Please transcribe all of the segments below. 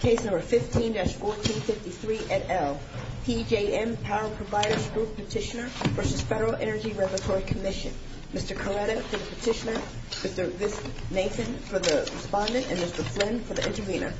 Case No. 15-1453 et al. PJM Power Providers Group Petitioner v. Federal Energy Regulatory Commission Mr. Coretta for the petitioner, Mr. Nathan for the respondent, and Mr. Flynn for the intervener.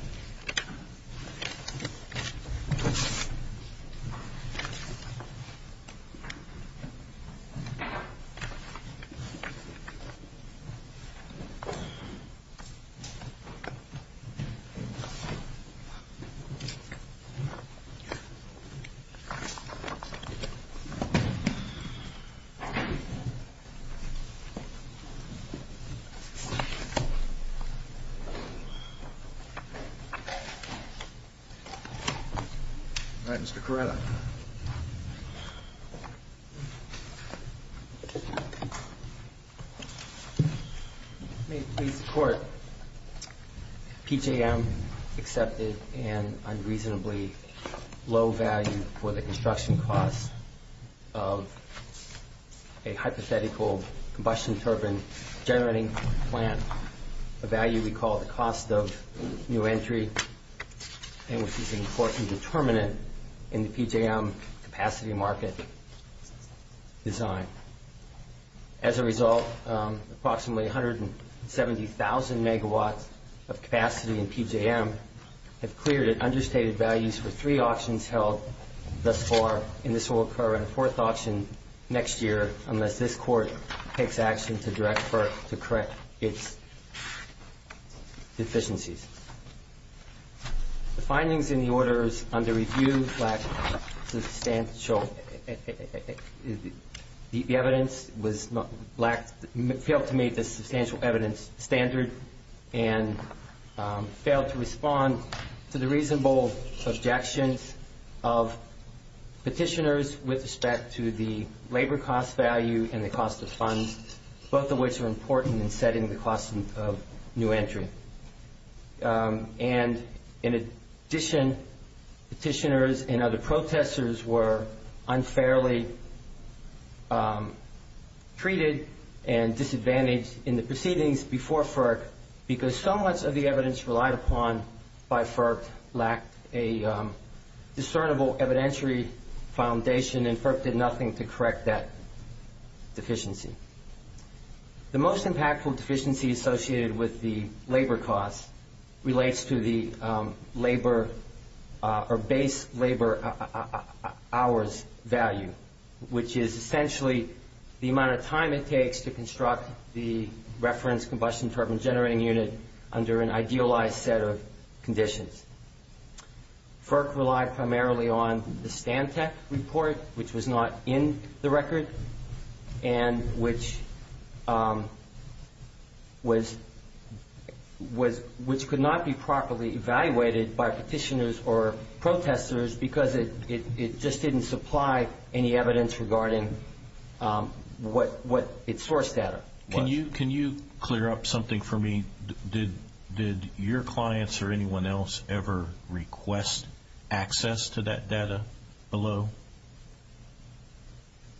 All right, Mr. Coretta. May it please the Court, PJM accepted an unreasonably low value for the construction cost of a hypothetical combustion turbine generating plant, a value we call the cost of new entry, and which is an important determinant in the PJM capacity market design. As a result, approximately 170,000 megawatts of capacity in PJM have cleared and understated values for three auctions held thus far, and this will occur in a fourth auction next year unless this Court takes orders under review. The evidence failed to meet the substantial evidence standard and failed to respond to the reasonable objections of petitioners with respect to the labor cost value and the cost of funds, both of which are important in setting the cost of new entry. And in addition, petitioners and other protesters were unfairly treated and disadvantaged in the proceedings before FERC because so much of the evidence relied upon by FERC lacked a discernible evidentiary foundation and FERC did nothing to correct that deficiency. The most impactful deficiency associated with the labor cost relates to the labor or base labor hours value, which is essentially the amount of time it takes to construct the reference combustion turbine generating unit under an idealized set of conditions. FERC relied primarily on the STANTEC report, which was not in the record and which could not be properly evaluated by petitioners or protesters because it just didn't supply any evidence regarding what its source data was. Can you clear up something for me? Did your clients or anyone else ever request access to that data below?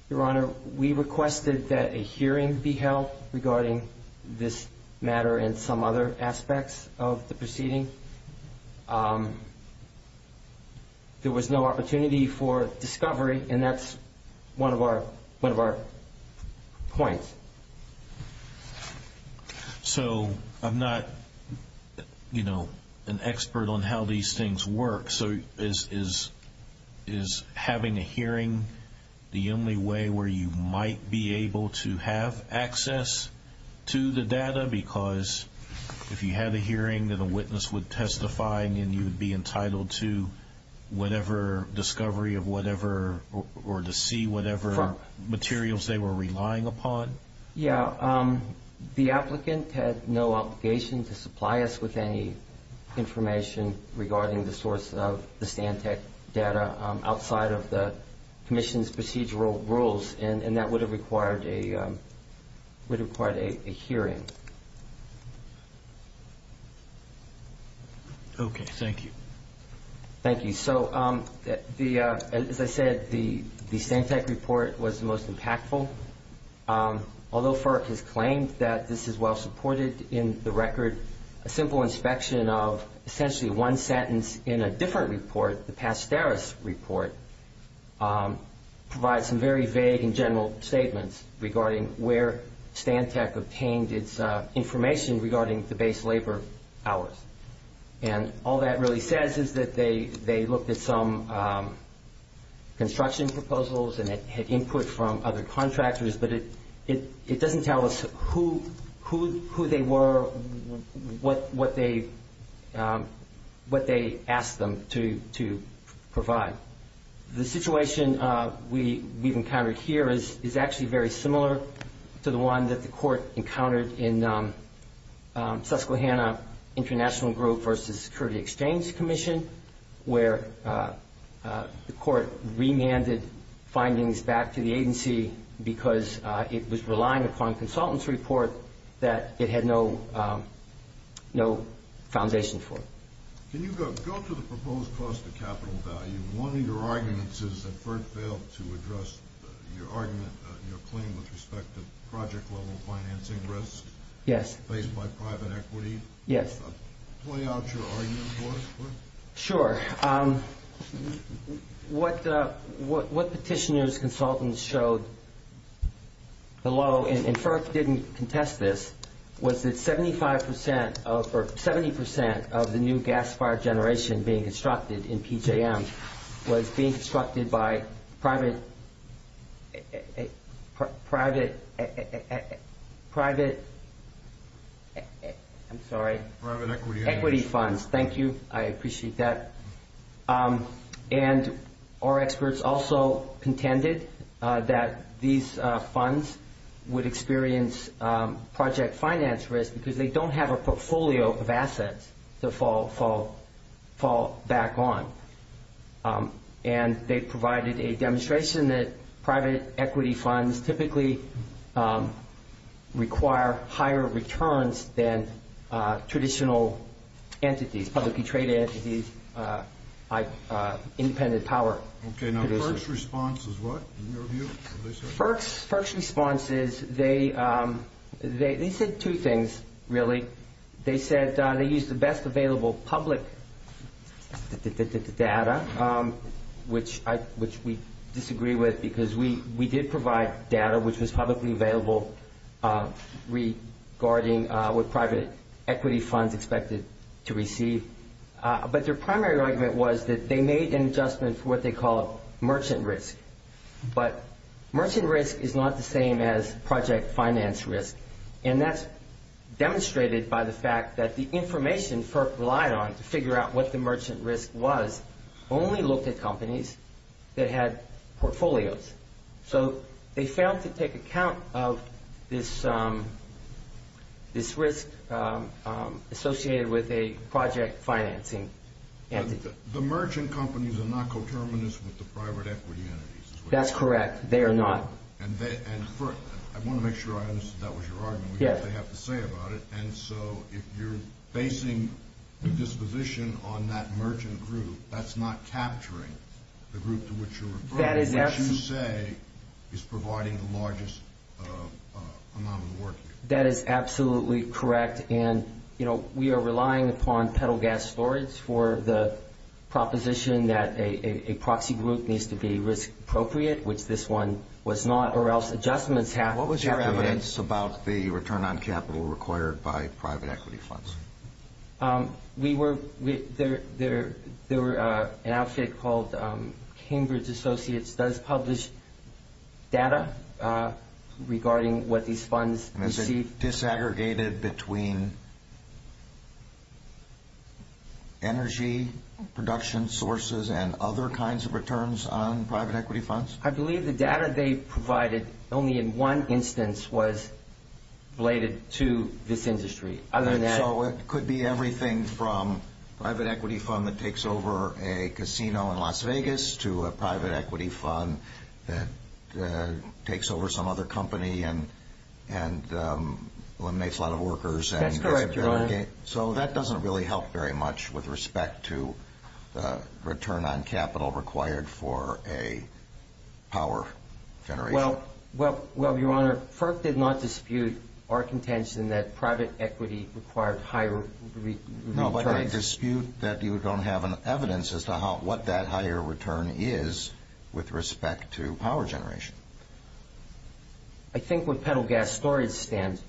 Your Honor, we requested that a hearing be held regarding this matter and some other aspects of the So I'm not, you know, an expert on how these things work. So is having a hearing the only way where you might be able to have access to the data because if you had a hearing that a witness would testify and you would be entitled to whatever discovery of whatever or to see whatever materials they were relying upon? Yeah. The applicant had no obligation to supply us with any information regarding the source of the STANTEC data outside of the commission's procedural rules. And that would have required a hearing. Okay. Thank you. Thank you. So as I said, the STANTEC report was the most impactful. Although FERC has claimed that this is well supported in the record, a simple inspection of essentially one sentence in a different report, the regarding the base labor hours. And all that really says is that they looked at some construction proposals and had input from other contractors. But it doesn't tell us who they were, what they asked them to provide. The situation we've encountered here is actually very similar to the one that the court encountered in Susquehanna International Group versus Security Exchange Commission, where the court remanded findings back to the agency because it was relying upon a consultant's report that it had no foundation for. Can you go to the proposed cost of capital value? One of your arguments is that FERC failed to address your argument, your claim with respect to project level financing risk. Yes. Based by private equity. Yes. Play out your argument for us. Sure. What petitioner's consultants showed below, and FERC didn't contest this, was that 70% of the new gas fire generation being constructed in PJM was being constructed by private equity funds. Thank you. I appreciate that. And our experts also contended that these funds would experience project finance risk because they don't have a portfolio of assets to fall back on. And they provided a demonstration that private equity funds typically require higher returns than traditional entities, publicly traded entities like independent power. Okay. Now, FERC's response is what, in your view? FERC's response is they said two things, really. They said they used the best available public data, which we disagree with because we did provide data which was publicly available regarding what private equity funds expected to receive. But their primary argument was that they made an adjustment for what they call merchant risk. But merchant risk is not the same as project finance risk. And that's demonstrated by the fact that the information FERC relied on to figure out what the merchant risk was only looked at companies that had portfolios. So they failed to take account of this risk associated with a project financing entity. The merchant companies are not coterminous with the private equity entities. That's correct. They are not. I want to make sure I understood that was your argument, what they have to say about it. And so if you're basing the disposition on that merchant group, that's not capturing the group to which you're referring. What you say is providing the largest amount of work here. That is absolutely correct. And, you know, we are relying upon petal gas storage for the proposition that a proxy group needs to be risk appropriate, which this one was not, or else adjustments happen. What was your evidence about the return on capital required by private equity funds? There was an outfit called Cambridge Associates does publish data regarding what these funds receive. Were they disaggregated between energy production sources and other kinds of returns on private equity funds? I believe the data they provided only in one instance was related to this industry. So it could be everything from private equity fund that takes over a casino in Las Vegas to a private equity fund that takes over some other company and eliminates a lot of workers. That's correct, Your Honor. So that doesn't really help very much with respect to return on capital required for a power generation. Well, Your Honor, FERC did not dispute our contention that private equity required higher returns. No, but I dispute that you don't have evidence as to what that higher return is with respect to power generation. I think what petal gas storage stands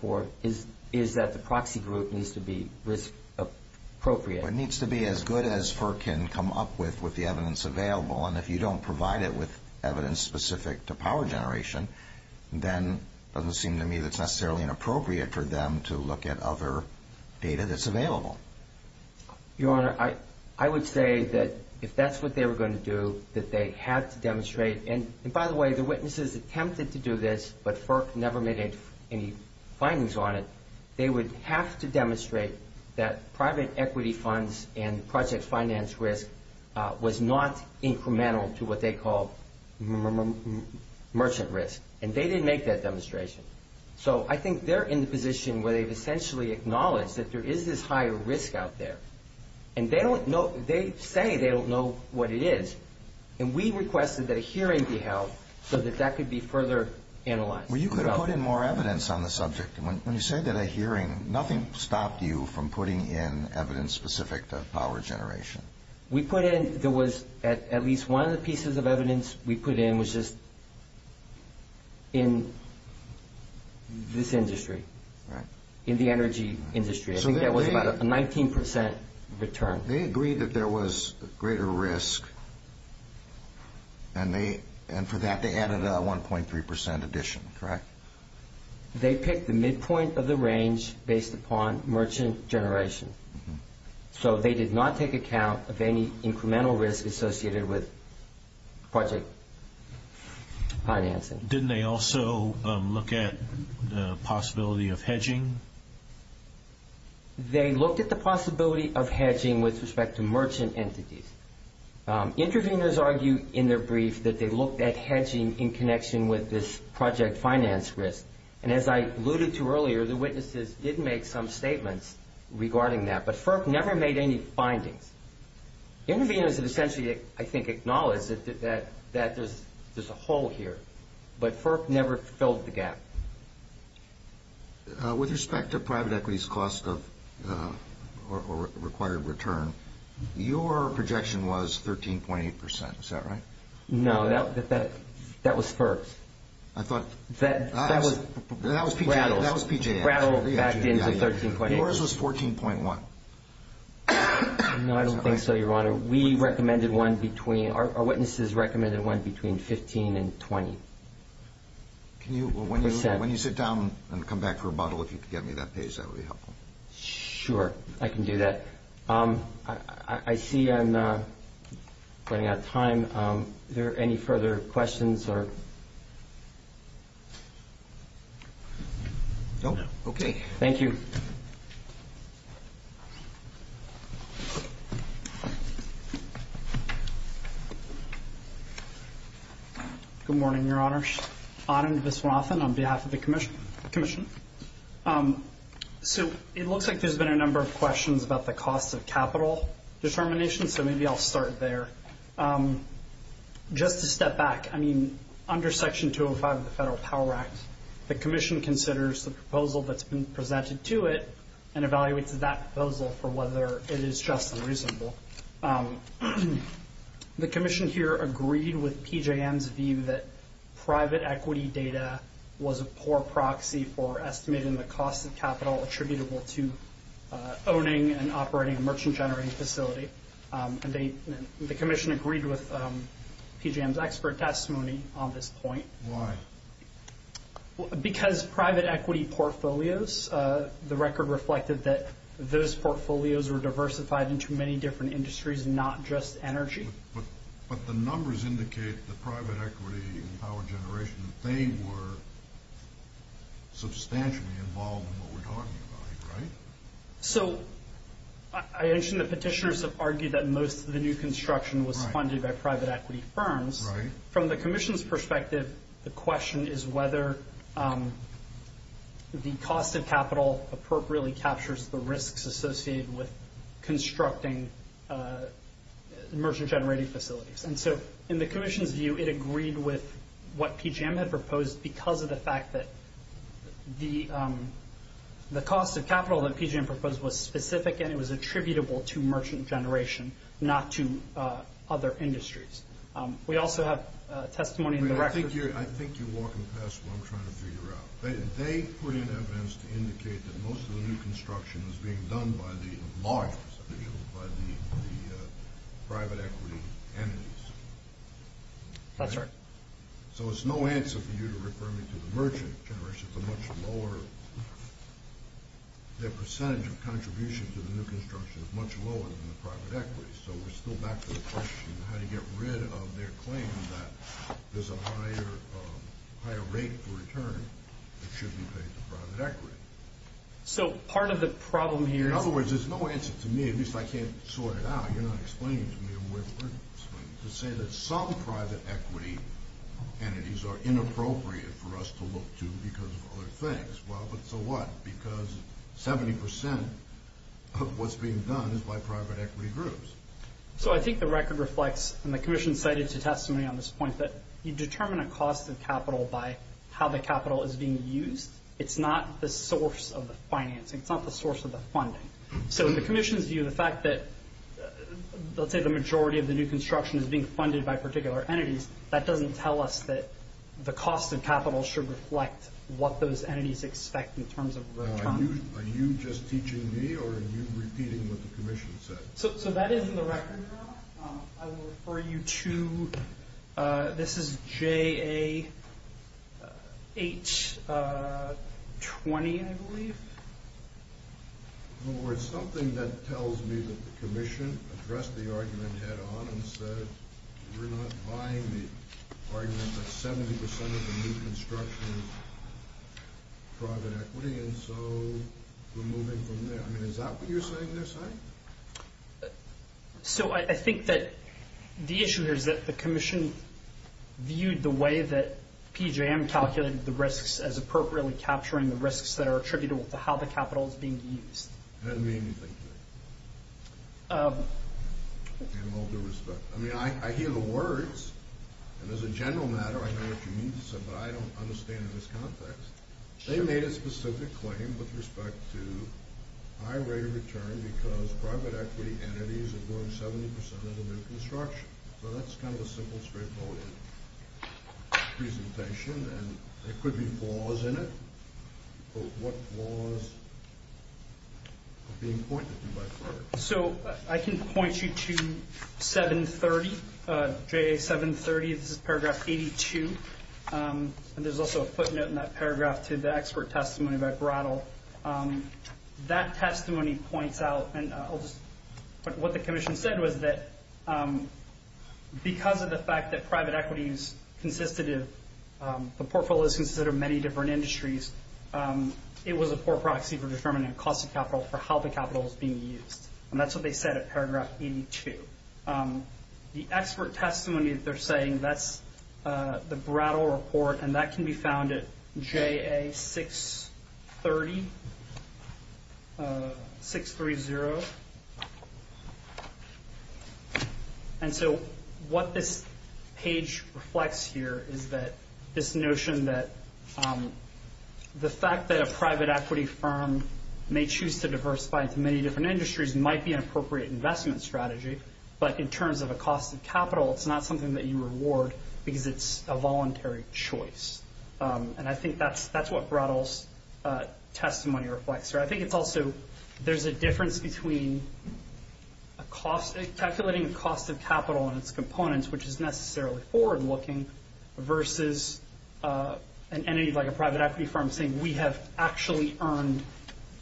for is that the proxy group needs to be risk appropriate. It needs to be as good as FERC can come up with with the evidence available. And if you don't provide it with evidence specific to power generation, then it doesn't seem to me that it's necessarily inappropriate for them to look at other data that's available. Your Honor, I would say that if that's what they were going to do, that they had to demonstrate. And by the way, the witnesses attempted to do this, but FERC never made any findings on it. They would have to demonstrate that private equity funds and project finance risk was not incremental to what they call merchant risk. And they didn't make that demonstration. So I think they're in the position where they've essentially acknowledged that there is this higher risk out there. And they say they don't know what it is. And we requested that a hearing be held so that that could be further analyzed. Well, you could have put in more evidence on the subject. When you say that a hearing, nothing stopped you from putting in evidence specific to power generation. We put in, there was at least one of the pieces of evidence we put in was just in this industry, in the energy industry. I think that was about a 19% return. They agreed that there was greater risk, and for that they added a 1.3% addition, correct? They picked the midpoint of the range based upon merchant generation. So they did not take account of any incremental risk associated with project financing. Didn't they also look at the possibility of hedging? They looked at the possibility of hedging with respect to merchant entities. Interveners argued in their brief that they looked at hedging in connection with this project finance risk. And as I alluded to earlier, the witnesses did make some statements regarding that. But FERC never made any findings. Interveners have essentially, I think, acknowledged that there's a hole here. But FERC never filled the gap. With respect to private equities cost of required return, your projection was 13.8%, is that right? No, that was FERC. That was PJF. Rattled back into 13.8%. Yours was 14.1%. No, I don't think so, Your Honor. We recommended one between, our witnesses recommended one between 15 and 20%. When you sit down and come back for a bottle, if you could get me that page, that would be helpful. Sure, I can do that. I see I'm running out of time. Are there any further questions? No. Okay. Thank you. Good morning, Your Honor. Adam Viswanathan on behalf of the Commission. So it looks like there's been a number of questions about the cost of capital determination. So maybe I'll start there. Just to step back, I mean, under Section 205 of the Federal Power Act, the Commission considers the proposal that's been presented to it, and evaluates that proposal for whether it is just and reasonable. The Commission here agreed with PJM's view that private equity data was a poor proxy for estimating the cost of capital attributable to owning and operating a merchant-generating facility. The Commission agreed with PJM's expert testimony on this point. Why? Because private equity portfolios, the record reflected that those portfolios were diversified into many different industries, not just energy. But the numbers indicate that private equity and power generation, they were substantially involved in what we're talking about, right? So I understand that petitioners have argued that most of the new construction was funded by private equity firms. Right. From the Commission's perspective, the question is whether the cost of capital appropriately captures the risks associated with constructing merchant-generating facilities. And so in the Commission's view, it agreed with what PJM had proposed because of the fact that the cost of capital that PJM proposed was specific and it was attributable to merchant generation, not to other industries. We also have testimony in the record. I think you're walking past what I'm trying to figure out. They put in evidence to indicate that most of the new construction was being done by the large, by the private equity entities. That's right. So it's no answer for you to refer me to the merchant generation. It's a much lower—their percentage of contribution to the new construction is much lower than the private equity. So we're still back to the question of how to get rid of their claim that there's a higher rate for return that should be paid to private equity. So part of the problem here is— In other words, there's no answer to me. At least I can't sort it out. You're not explaining to me a way to explain it. To say that some private equity entities are inappropriate for us to look to because of other things. Well, but so what? Because 70% of what's being done is by private equity groups. So I think the record reflects, and the commission cited to testimony on this point, that you determine a cost of capital by how the capital is being used. It's not the source of the financing. It's not the source of the funding. So in the commission's view, the fact that, let's say, the majority of the new construction is being funded by particular entities, that doesn't tell us that the cost of capital should reflect what those entities expect in terms of return. Are you just teaching me, or are you repeating what the commission said? So that is in the record, Rob. I will refer you to—this is JA820, I believe. In other words, something that tells me that the commission addressed the argument head-on and said we're not buying the argument that 70% of the new construction is private equity, and so we're moving from there. I mean, is that what you're saying there, Simon? So I think that the issue here is that the commission viewed the way that PJM calculated the risks as appropriately capturing the risks that are attributable to how the capital is being used. It doesn't mean anything to me, in all due respect. I mean, I hear the words, and as a general matter, I know what you mean to say, but I don't understand this context. They made a specific claim with respect to high rate of return because private equity entities are doing 70% of the new construction. So that's kind of a simple, straightforward presentation, and there could be flaws in it, but what flaws are being pointed to by Friday? So I can point you to 730, JA730, this is paragraph 82, and there's also a footnote in that paragraph to the expert testimony by Brattle. That testimony points out, and what the commission said was that because of the fact that the portfolio is considered many different industries, it was a poor proxy for determining the cost of capital for how the capital was being used. And that's what they said at paragraph 82. The expert testimony that they're saying, that's the Brattle report, and that can be found at JA630. And so what this page reflects here is this notion that the fact that a private equity firm may choose to diversify into many different industries might be an appropriate investment strategy, but in terms of a cost of capital, it's not something that you reward because it's a voluntary choice. And I think that's what Brattle's testimony reflects. I think it's also, there's a difference between calculating the cost of capital and its components, which is necessarily forward-looking, versus an entity like a private equity firm saying, we have actually earned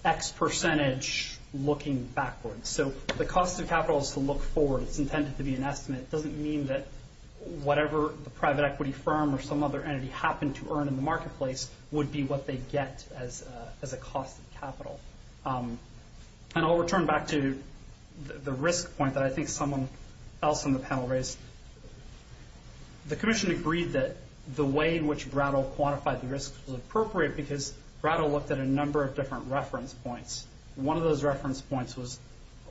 X percentage looking backwards. So the cost of capital is to look forward. It's intended to be an estimate. It doesn't mean that whatever the private equity firm or some other entity happened to earn in the marketplace would be what they get as a cost of capital. And I'll return back to the risk point that I think someone else on the panel raised. The commission agreed that the way in which Brattle quantified the risks was appropriate because Brattle looked at a number of different reference points. One of those reference points was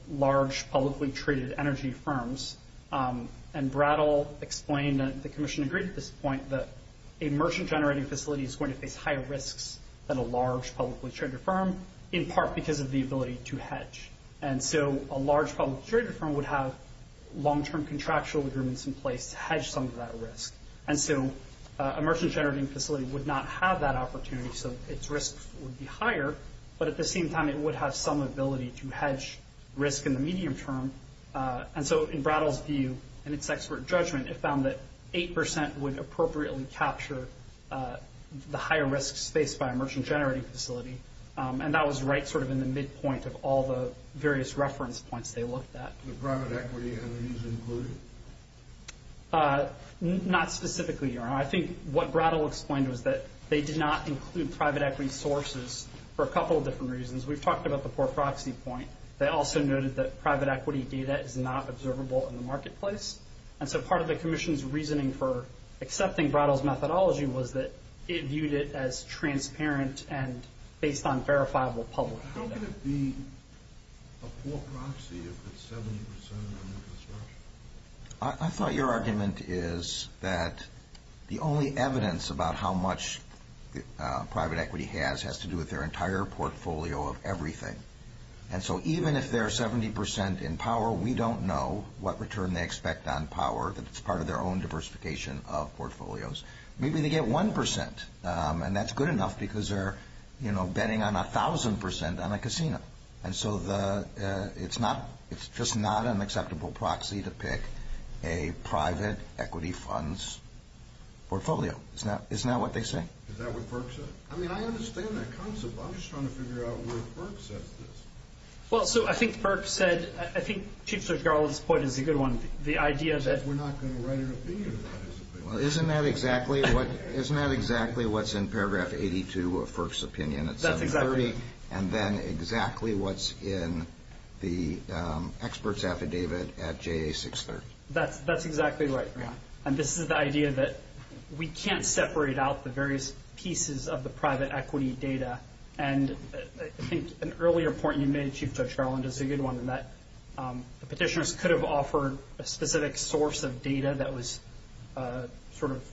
large, publicly-traded energy firms. And Brattle explained that the commission agreed at this point that a merchant-generating facility is going to face higher risks than a large, publicly-traded firm, in part because of the ability to hedge. And so a large, publicly-traded firm would have long-term contractual agreements in place to hedge some of that risk. And so a merchant-generating facility would not have that opportunity, so its risks would be higher. But at the same time, it would have some ability to hedge risk in the medium term. And so in Brattle's view and its expert judgment, it found that 8% would appropriately capture the higher risks faced by a merchant-generating facility. And that was right sort of in the midpoint of all the various reference points they looked at. Not specifically, Your Honor. I think what Brattle explained was that they did not include private equity sources for a couple of different reasons. We've talked about the poor proxy point. They also noted that private equity data is not observable in the marketplace. And so part of the commission's reasoning for accepting Brattle's methodology was that it viewed it as transparent and based on verifiable public data. Why could it be a poor proxy if it's 70% on the construction? I thought your argument is that the only evidence about how much private equity has has to do with their entire portfolio of everything. And so even if they're 70% in power, we don't know what return they expect on power that's part of their own diversification of portfolios. Maybe they get 1%, and that's good enough because they're betting on 1,000% on a casino. And so it's just not an acceptable proxy to pick a private equity funds portfolio. Isn't that what they say? Is that what Burke said? I mean, I understand that concept. I'm just trying to figure out where Burke says this. Well, so I think Burke said, I think Chief Judge Garland's point is a good one. The idea that we're not going to write an opinion about his opinion. Isn't that exactly what's in paragraph 82 of Burke's opinion at 730? That's exactly right. And then exactly what's in the expert's affidavit at JA 630? That's exactly right, Brian. And this is the idea that we can't separate out the various pieces of the private equity data. And I think an earlier point you made, Chief Judge Garland, is a good one, that the petitioners could have offered a specific source of data that was sort of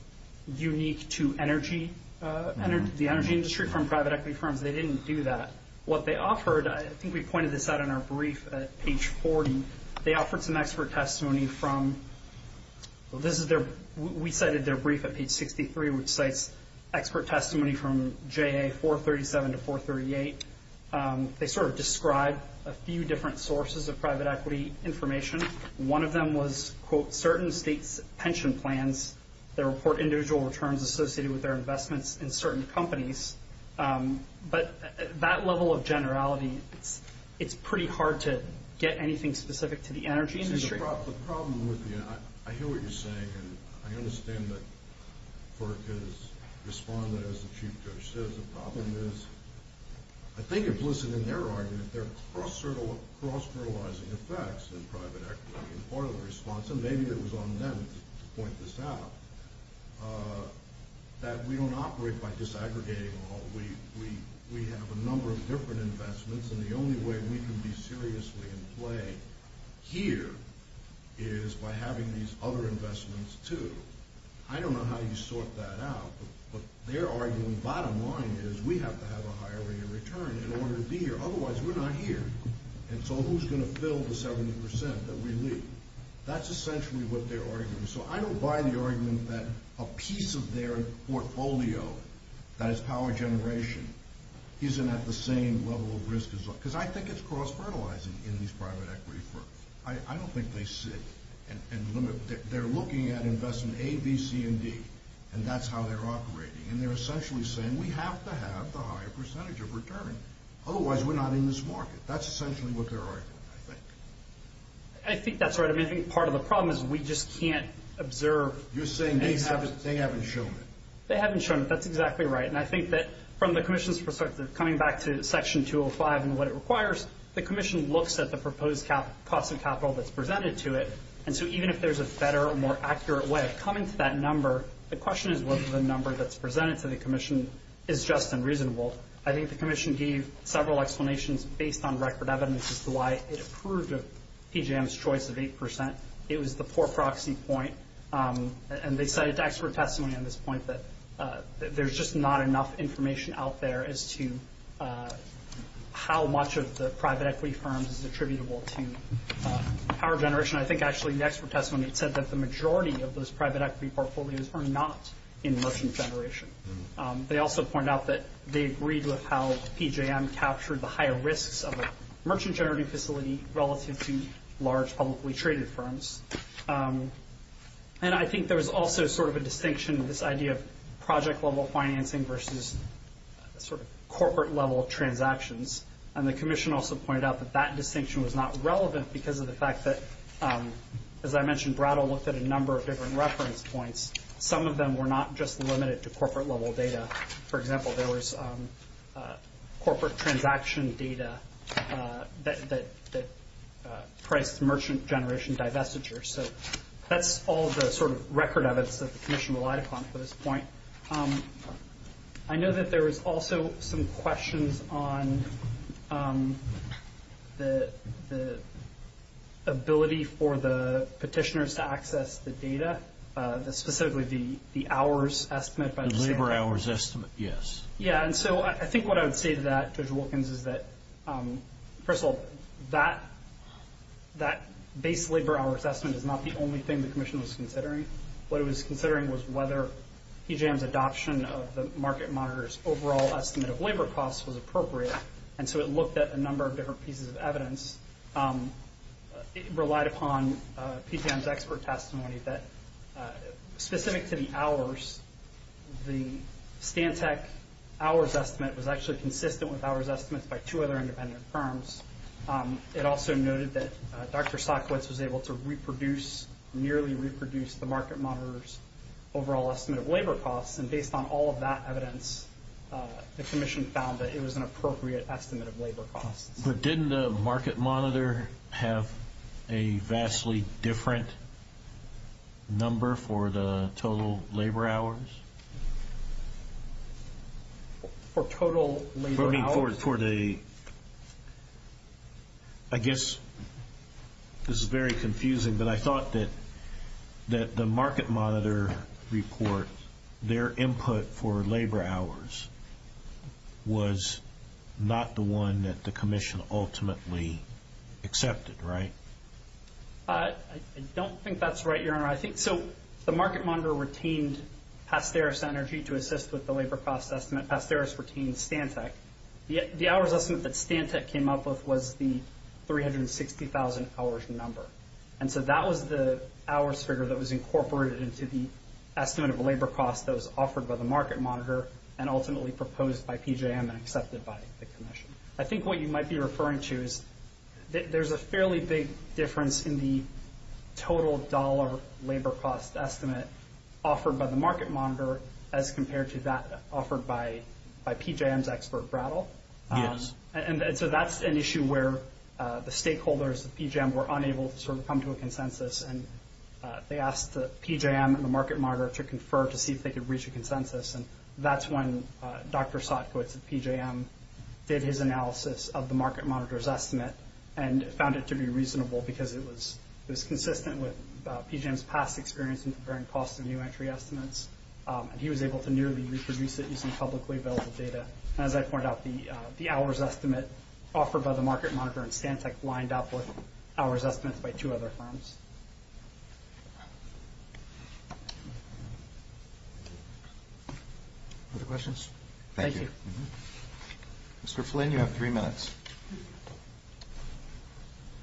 unique to energy, the energy industry from private equity firms. They didn't do that. What they offered, I think we pointed this out in our brief at page 40, they offered some expert testimony from, well, this is their, we cited their brief at page 63, which cites expert testimony from JA 437 to 438. They sort of described a few different sources of private equity information. One of them was, quote, certain states' pension plans that report individual returns associated with their investments in certain companies. But that level of generality, it's pretty hard to get anything specific to the energy industry. The problem with the, I hear what you're saying, and I understand that FERC has responded, as the Chief Judge says, the problem is, I think implicit in their argument, there are cross-generalizing effects in private equity in part of the response, and maybe it was on them to point this out, that we don't operate by disaggregating all. We have a number of different investments, and the only way we can be seriously in play here is by having these other investments, too. I don't know how you sort that out, but their argument, bottom line, is we have to have a higher rate of return in order to be here. Otherwise, we're not here, and so who's going to fill the 70% that we leave? That's essentially what their argument is. So I don't buy the argument that a piece of their portfolio, that is power generation, isn't at the same level of risk, because I think it's cross-fertilizing in these private equity firms. I don't think they sit and limit. They're looking at investment A, B, C, and D, and that's how they're operating, and they're essentially saying we have to have the higher percentage of return. Otherwise, we're not in this market. That's essentially what their argument, I think. I think that's right. I mean, I think part of the problem is we just can't observe. You're saying they haven't shown it. They haven't shown it. That's exactly right. And I think that from the commission's perspective, coming back to Section 205 and what it requires, the commission looks at the proposed cost of capital that's presented to it, and so even if there's a better, more accurate way of coming to that number, the question is whether the number that's presented to the commission is just and reasonable. I think the commission gave several explanations based on record evidence as to why it approved of PJM's choice of 8%. It was the poor proxy point, and they cited expert testimony on this point that there's just not enough information out there as to how much of the private equity firms is attributable to power generation. I think actually the expert testimony said that the majority of those private equity portfolios are not in merchant generation. They also point out that they agreed with how PJM captured the higher risks of a merchant generating facility relative to large publicly traded firms. And I think there was also sort of a distinction in this idea of project-level financing versus sort of corporate-level transactions, and the commission also pointed out that that distinction was not relevant because of the fact that, as I mentioned, Brattle looked at a number of different reference points. Some of them were not just limited to corporate-level data. For example, there was corporate transaction data that priced merchant generation divestiture. So that's all the sort of record evidence that the commission relied upon for this point. I know that there was also some questions on the ability for the petitioners to access the data, specifically the hours estimate. The labor hours estimate, yes. Yeah, and so I think what I would say to that, Judge Wilkins, is that, first of all, that base labor hours estimate is not the only thing the commission was considering. What it was considering was whether PJM's adoption of the market monitor's overall estimate of labor costs was appropriate, and so it looked at a number of different pieces of evidence. It relied upon PJM's expert testimony that, specific to the hours, the Stantec hours estimate was actually consistent with hours estimates by two other independent firms. It also noted that Dr. Sackwitz was able to reproduce, nearly reproduce, the market monitor's overall estimate of labor costs, and based on all of that evidence, the commission found that it was an appropriate estimate of labor costs. But didn't the market monitor have a vastly different number for the total labor hours? For total labor hours? For the, I guess, this is very confusing, but I thought that the market monitor report, their input for labor hours was not the one that the commission ultimately accepted, right? I don't think that's right, Your Honor. I think, so the market monitor retained Pasteris Energy to assist with the labor cost estimate. Pasteris retained Stantec. The hours estimate that Stantec came up with was the 360,000 hours number, and so that was the hours figure that was incorporated into the estimate of labor costs that was offered by the market monitor and ultimately proposed by PJM and accepted by the commission. I think what you might be referring to is there's a fairly big difference in the total dollar labor cost estimate offered by the market monitor as compared to that offered by PJM's expert brattle. Yes. And so that's an issue where the stakeholders of PJM were unable to sort of come to a consensus, and they asked the PJM and the market monitor to confer to see if they could reach a consensus, and that's when Dr. Sotkowitz of PJM did his analysis of the market monitor's estimate and found it to be reasonable because it was consistent with PJM's past experience in preparing cost of new entry estimates, and he was able to nearly reproduce it using publicly available data. As I pointed out, the hours estimate offered by the market monitor and Stantec lined up with hours estimates by two other firms. Other questions? Thank you. Mr. Flynn, you have three minutes.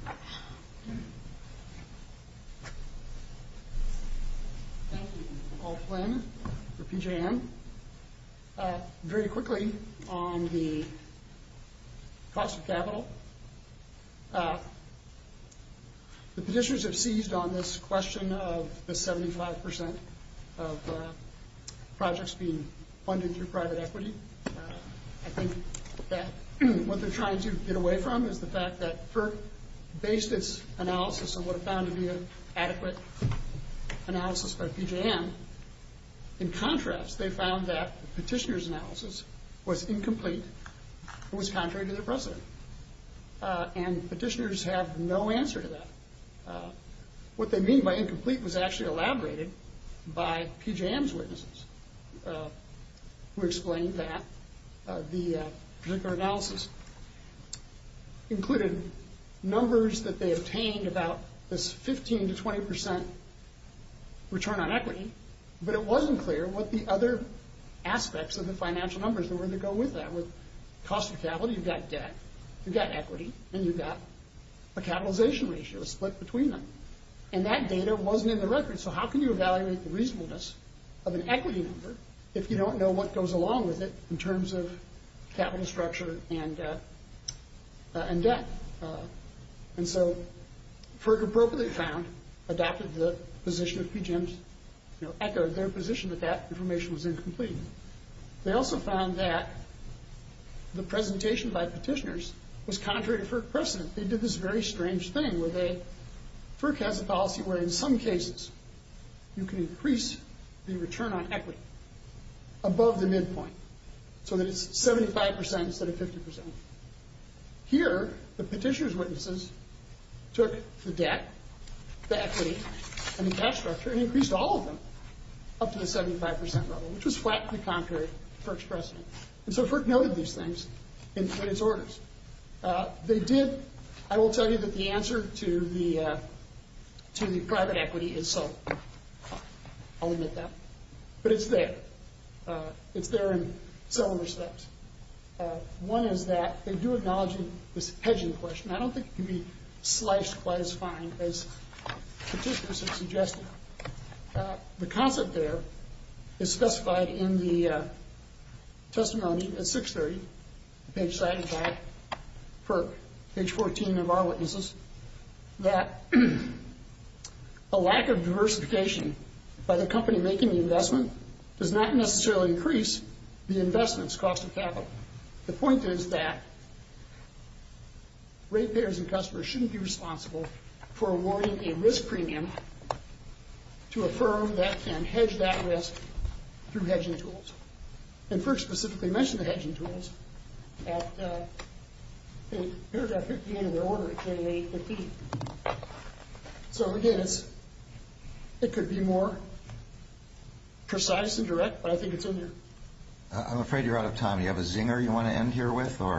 Thank you. Paul Flynn for PJM. Very quickly on the cost of capital, the petitioners have seized on this question of the 75% of projects being funded through private equity. I think that what they're trying to get away from is the fact that FERC based its analysis on what it found to be an adequate analysis by PJM. In contrast, they found that the petitioner's analysis was incomplete and was contrary to their precedent, and petitioners have no answer to that. What they mean by incomplete was actually elaborated by PJM's witnesses, who explained that the particular analysis included numbers that they obtained about this 15% to 20% return on equity, but it wasn't clear what the other aspects of the financial numbers that were to go with that were. Cost of capital, you've got debt, you've got equity, and you've got a capitalization ratio split between them, and that data wasn't in the record, so how can you evaluate the reasonableness of an equity number if you don't know what goes along with it in terms of capital structure and debt? And so FERC appropriately found, adopted the position of PJM's, echoed their position that that information was incomplete. They also found that the presentation by petitioners was contrary to FERC precedent. They did this very strange thing where they, FERC has a policy where in some cases you can increase the return on equity above the midpoint so that it's 75% instead of 50%. Here, the petitioner's witnesses took the debt, the equity, and the cash structure and increased all of them up to the 75% level, which was flatly contrary to FERC's precedent. And so FERC noted these things in its orders. They did, I will tell you that the answer to the private equity is so. I'll admit that. But it's there. It's there in several respects. One is that they do acknowledge this hedging question. I don't think it can be sliced quite as fine as petitioners have suggested. The concept there is specified in the testimony at 630, page 75, FERC, page 14 of our witnesses, that a lack of diversification by the company making the investment does not necessarily increase the investment's cost of capital. The point is that ratepayers and customers shouldn't be responsible for awarding a risk premium to a firm that can hedge that risk through hedging tools. And FERC specifically mentioned the hedging tools at paragraph 58 of their order, So, again, it could be more precise and direct, but I think it's in there. I'm afraid you're out of time. Do you have a zinger you want to end here with? On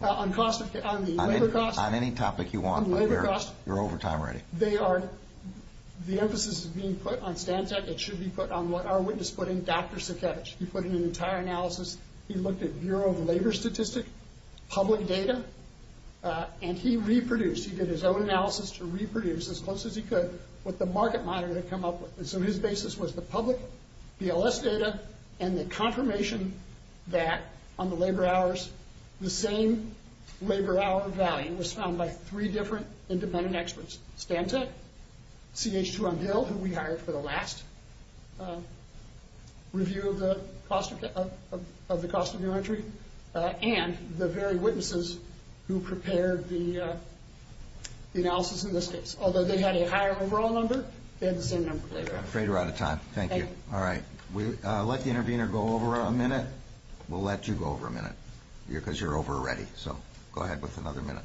the labor costs? On any topic you want, but you're over time already. The emphasis is being put on Stantec. It should be put on what our witness put in, Dr. Sikevich. He put in an entire analysis. He looked at Bureau of Labor Statistics, public data, and he reproduced. He did his own analysis to reproduce, as close as he could, what the market monitor had come up with. So his basis was the public BLS data and the confirmation that, on the labor hours, the same labor hour value was found by three different independent experts. Stantec, CH2 on Gil, who we hired for the last review of the cost of new entry, and the very witnesses who prepared the analysis in this case. Although they had a higher overall number, they had the same number of labor hours. I'm afraid we're out of time. Thank you. All right. Let the intervener go over a minute. We'll let you go over a minute because you're over already. So go ahead with another minute.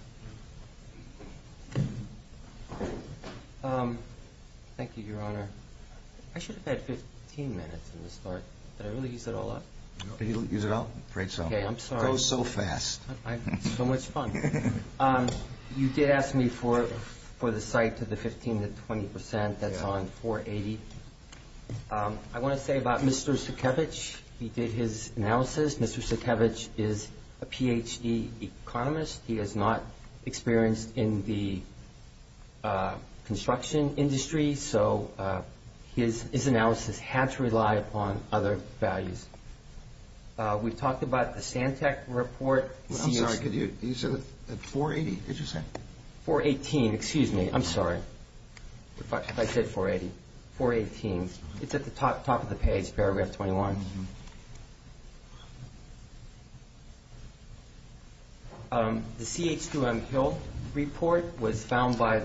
Thank you, Your Honor. I should have had 15 minutes in this part. Did I really use it all up? Did you use it all? I'm afraid so. Okay. I'm sorry. It goes so fast. It's so much fun. You did ask me for the site to the 15% to 20%. That's on 480. I want to say about Mr. Sukevich, he did his analysis. Mr. Sukevich is a Ph.D. economist. He is not experienced in the construction industry, so his analysis had to rely upon other values. We talked about the Santec report. I'm sorry. You said 480, did you say? 418. Excuse me. I'm sorry if I said 480. 418. It's at the top of the page, paragraph 21. The CH2M Hill report was found by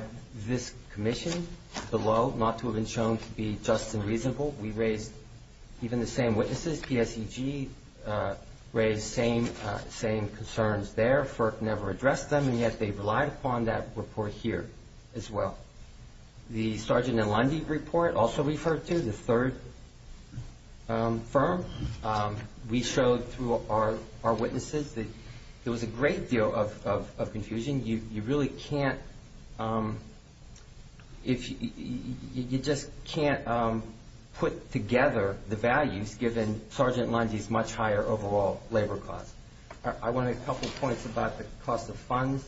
this commission below, not to have been shown to be just and reasonable. We raised even the same witnesses. PSEG raised the same concerns there. FERC never addressed them, and yet they relied upon that report here as well. The Sargent and Lundy report also referred to, the third firm. We showed through our witnesses that there was a great deal of confusion. You really can't put together the values given Sargent and Lundy's much higher overall labor costs. I want to make a couple of points about the cost of funds,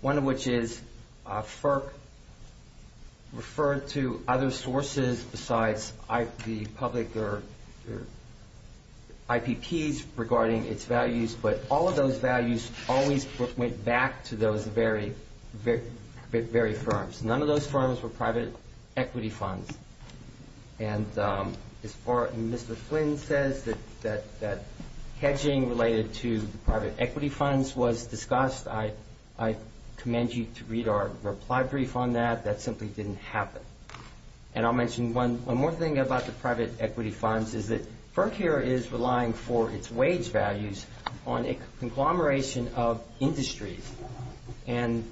one of which is FERC referred to other sources besides the public or IPPs regarding its values, but all of those values always went back to those very firms. None of those firms were private equity funds. As far as Mr. Flynn says, that hedging related to private equity funds was discussed. I commend you to read our reply brief on that. That simply didn't happen. I'll mention one more thing about the private equity funds, is that FERC here is relying for its wage values on a conglomeration of industries. And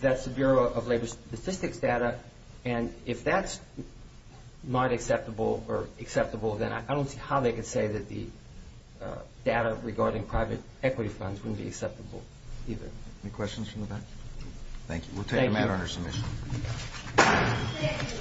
that's the Bureau of Labor Statistics data. And if that's not acceptable or acceptable, then I don't see how they could say that the data regarding private equity funds wouldn't be acceptable either. Any questions from the back? Thank you. We'll take a matter under submission.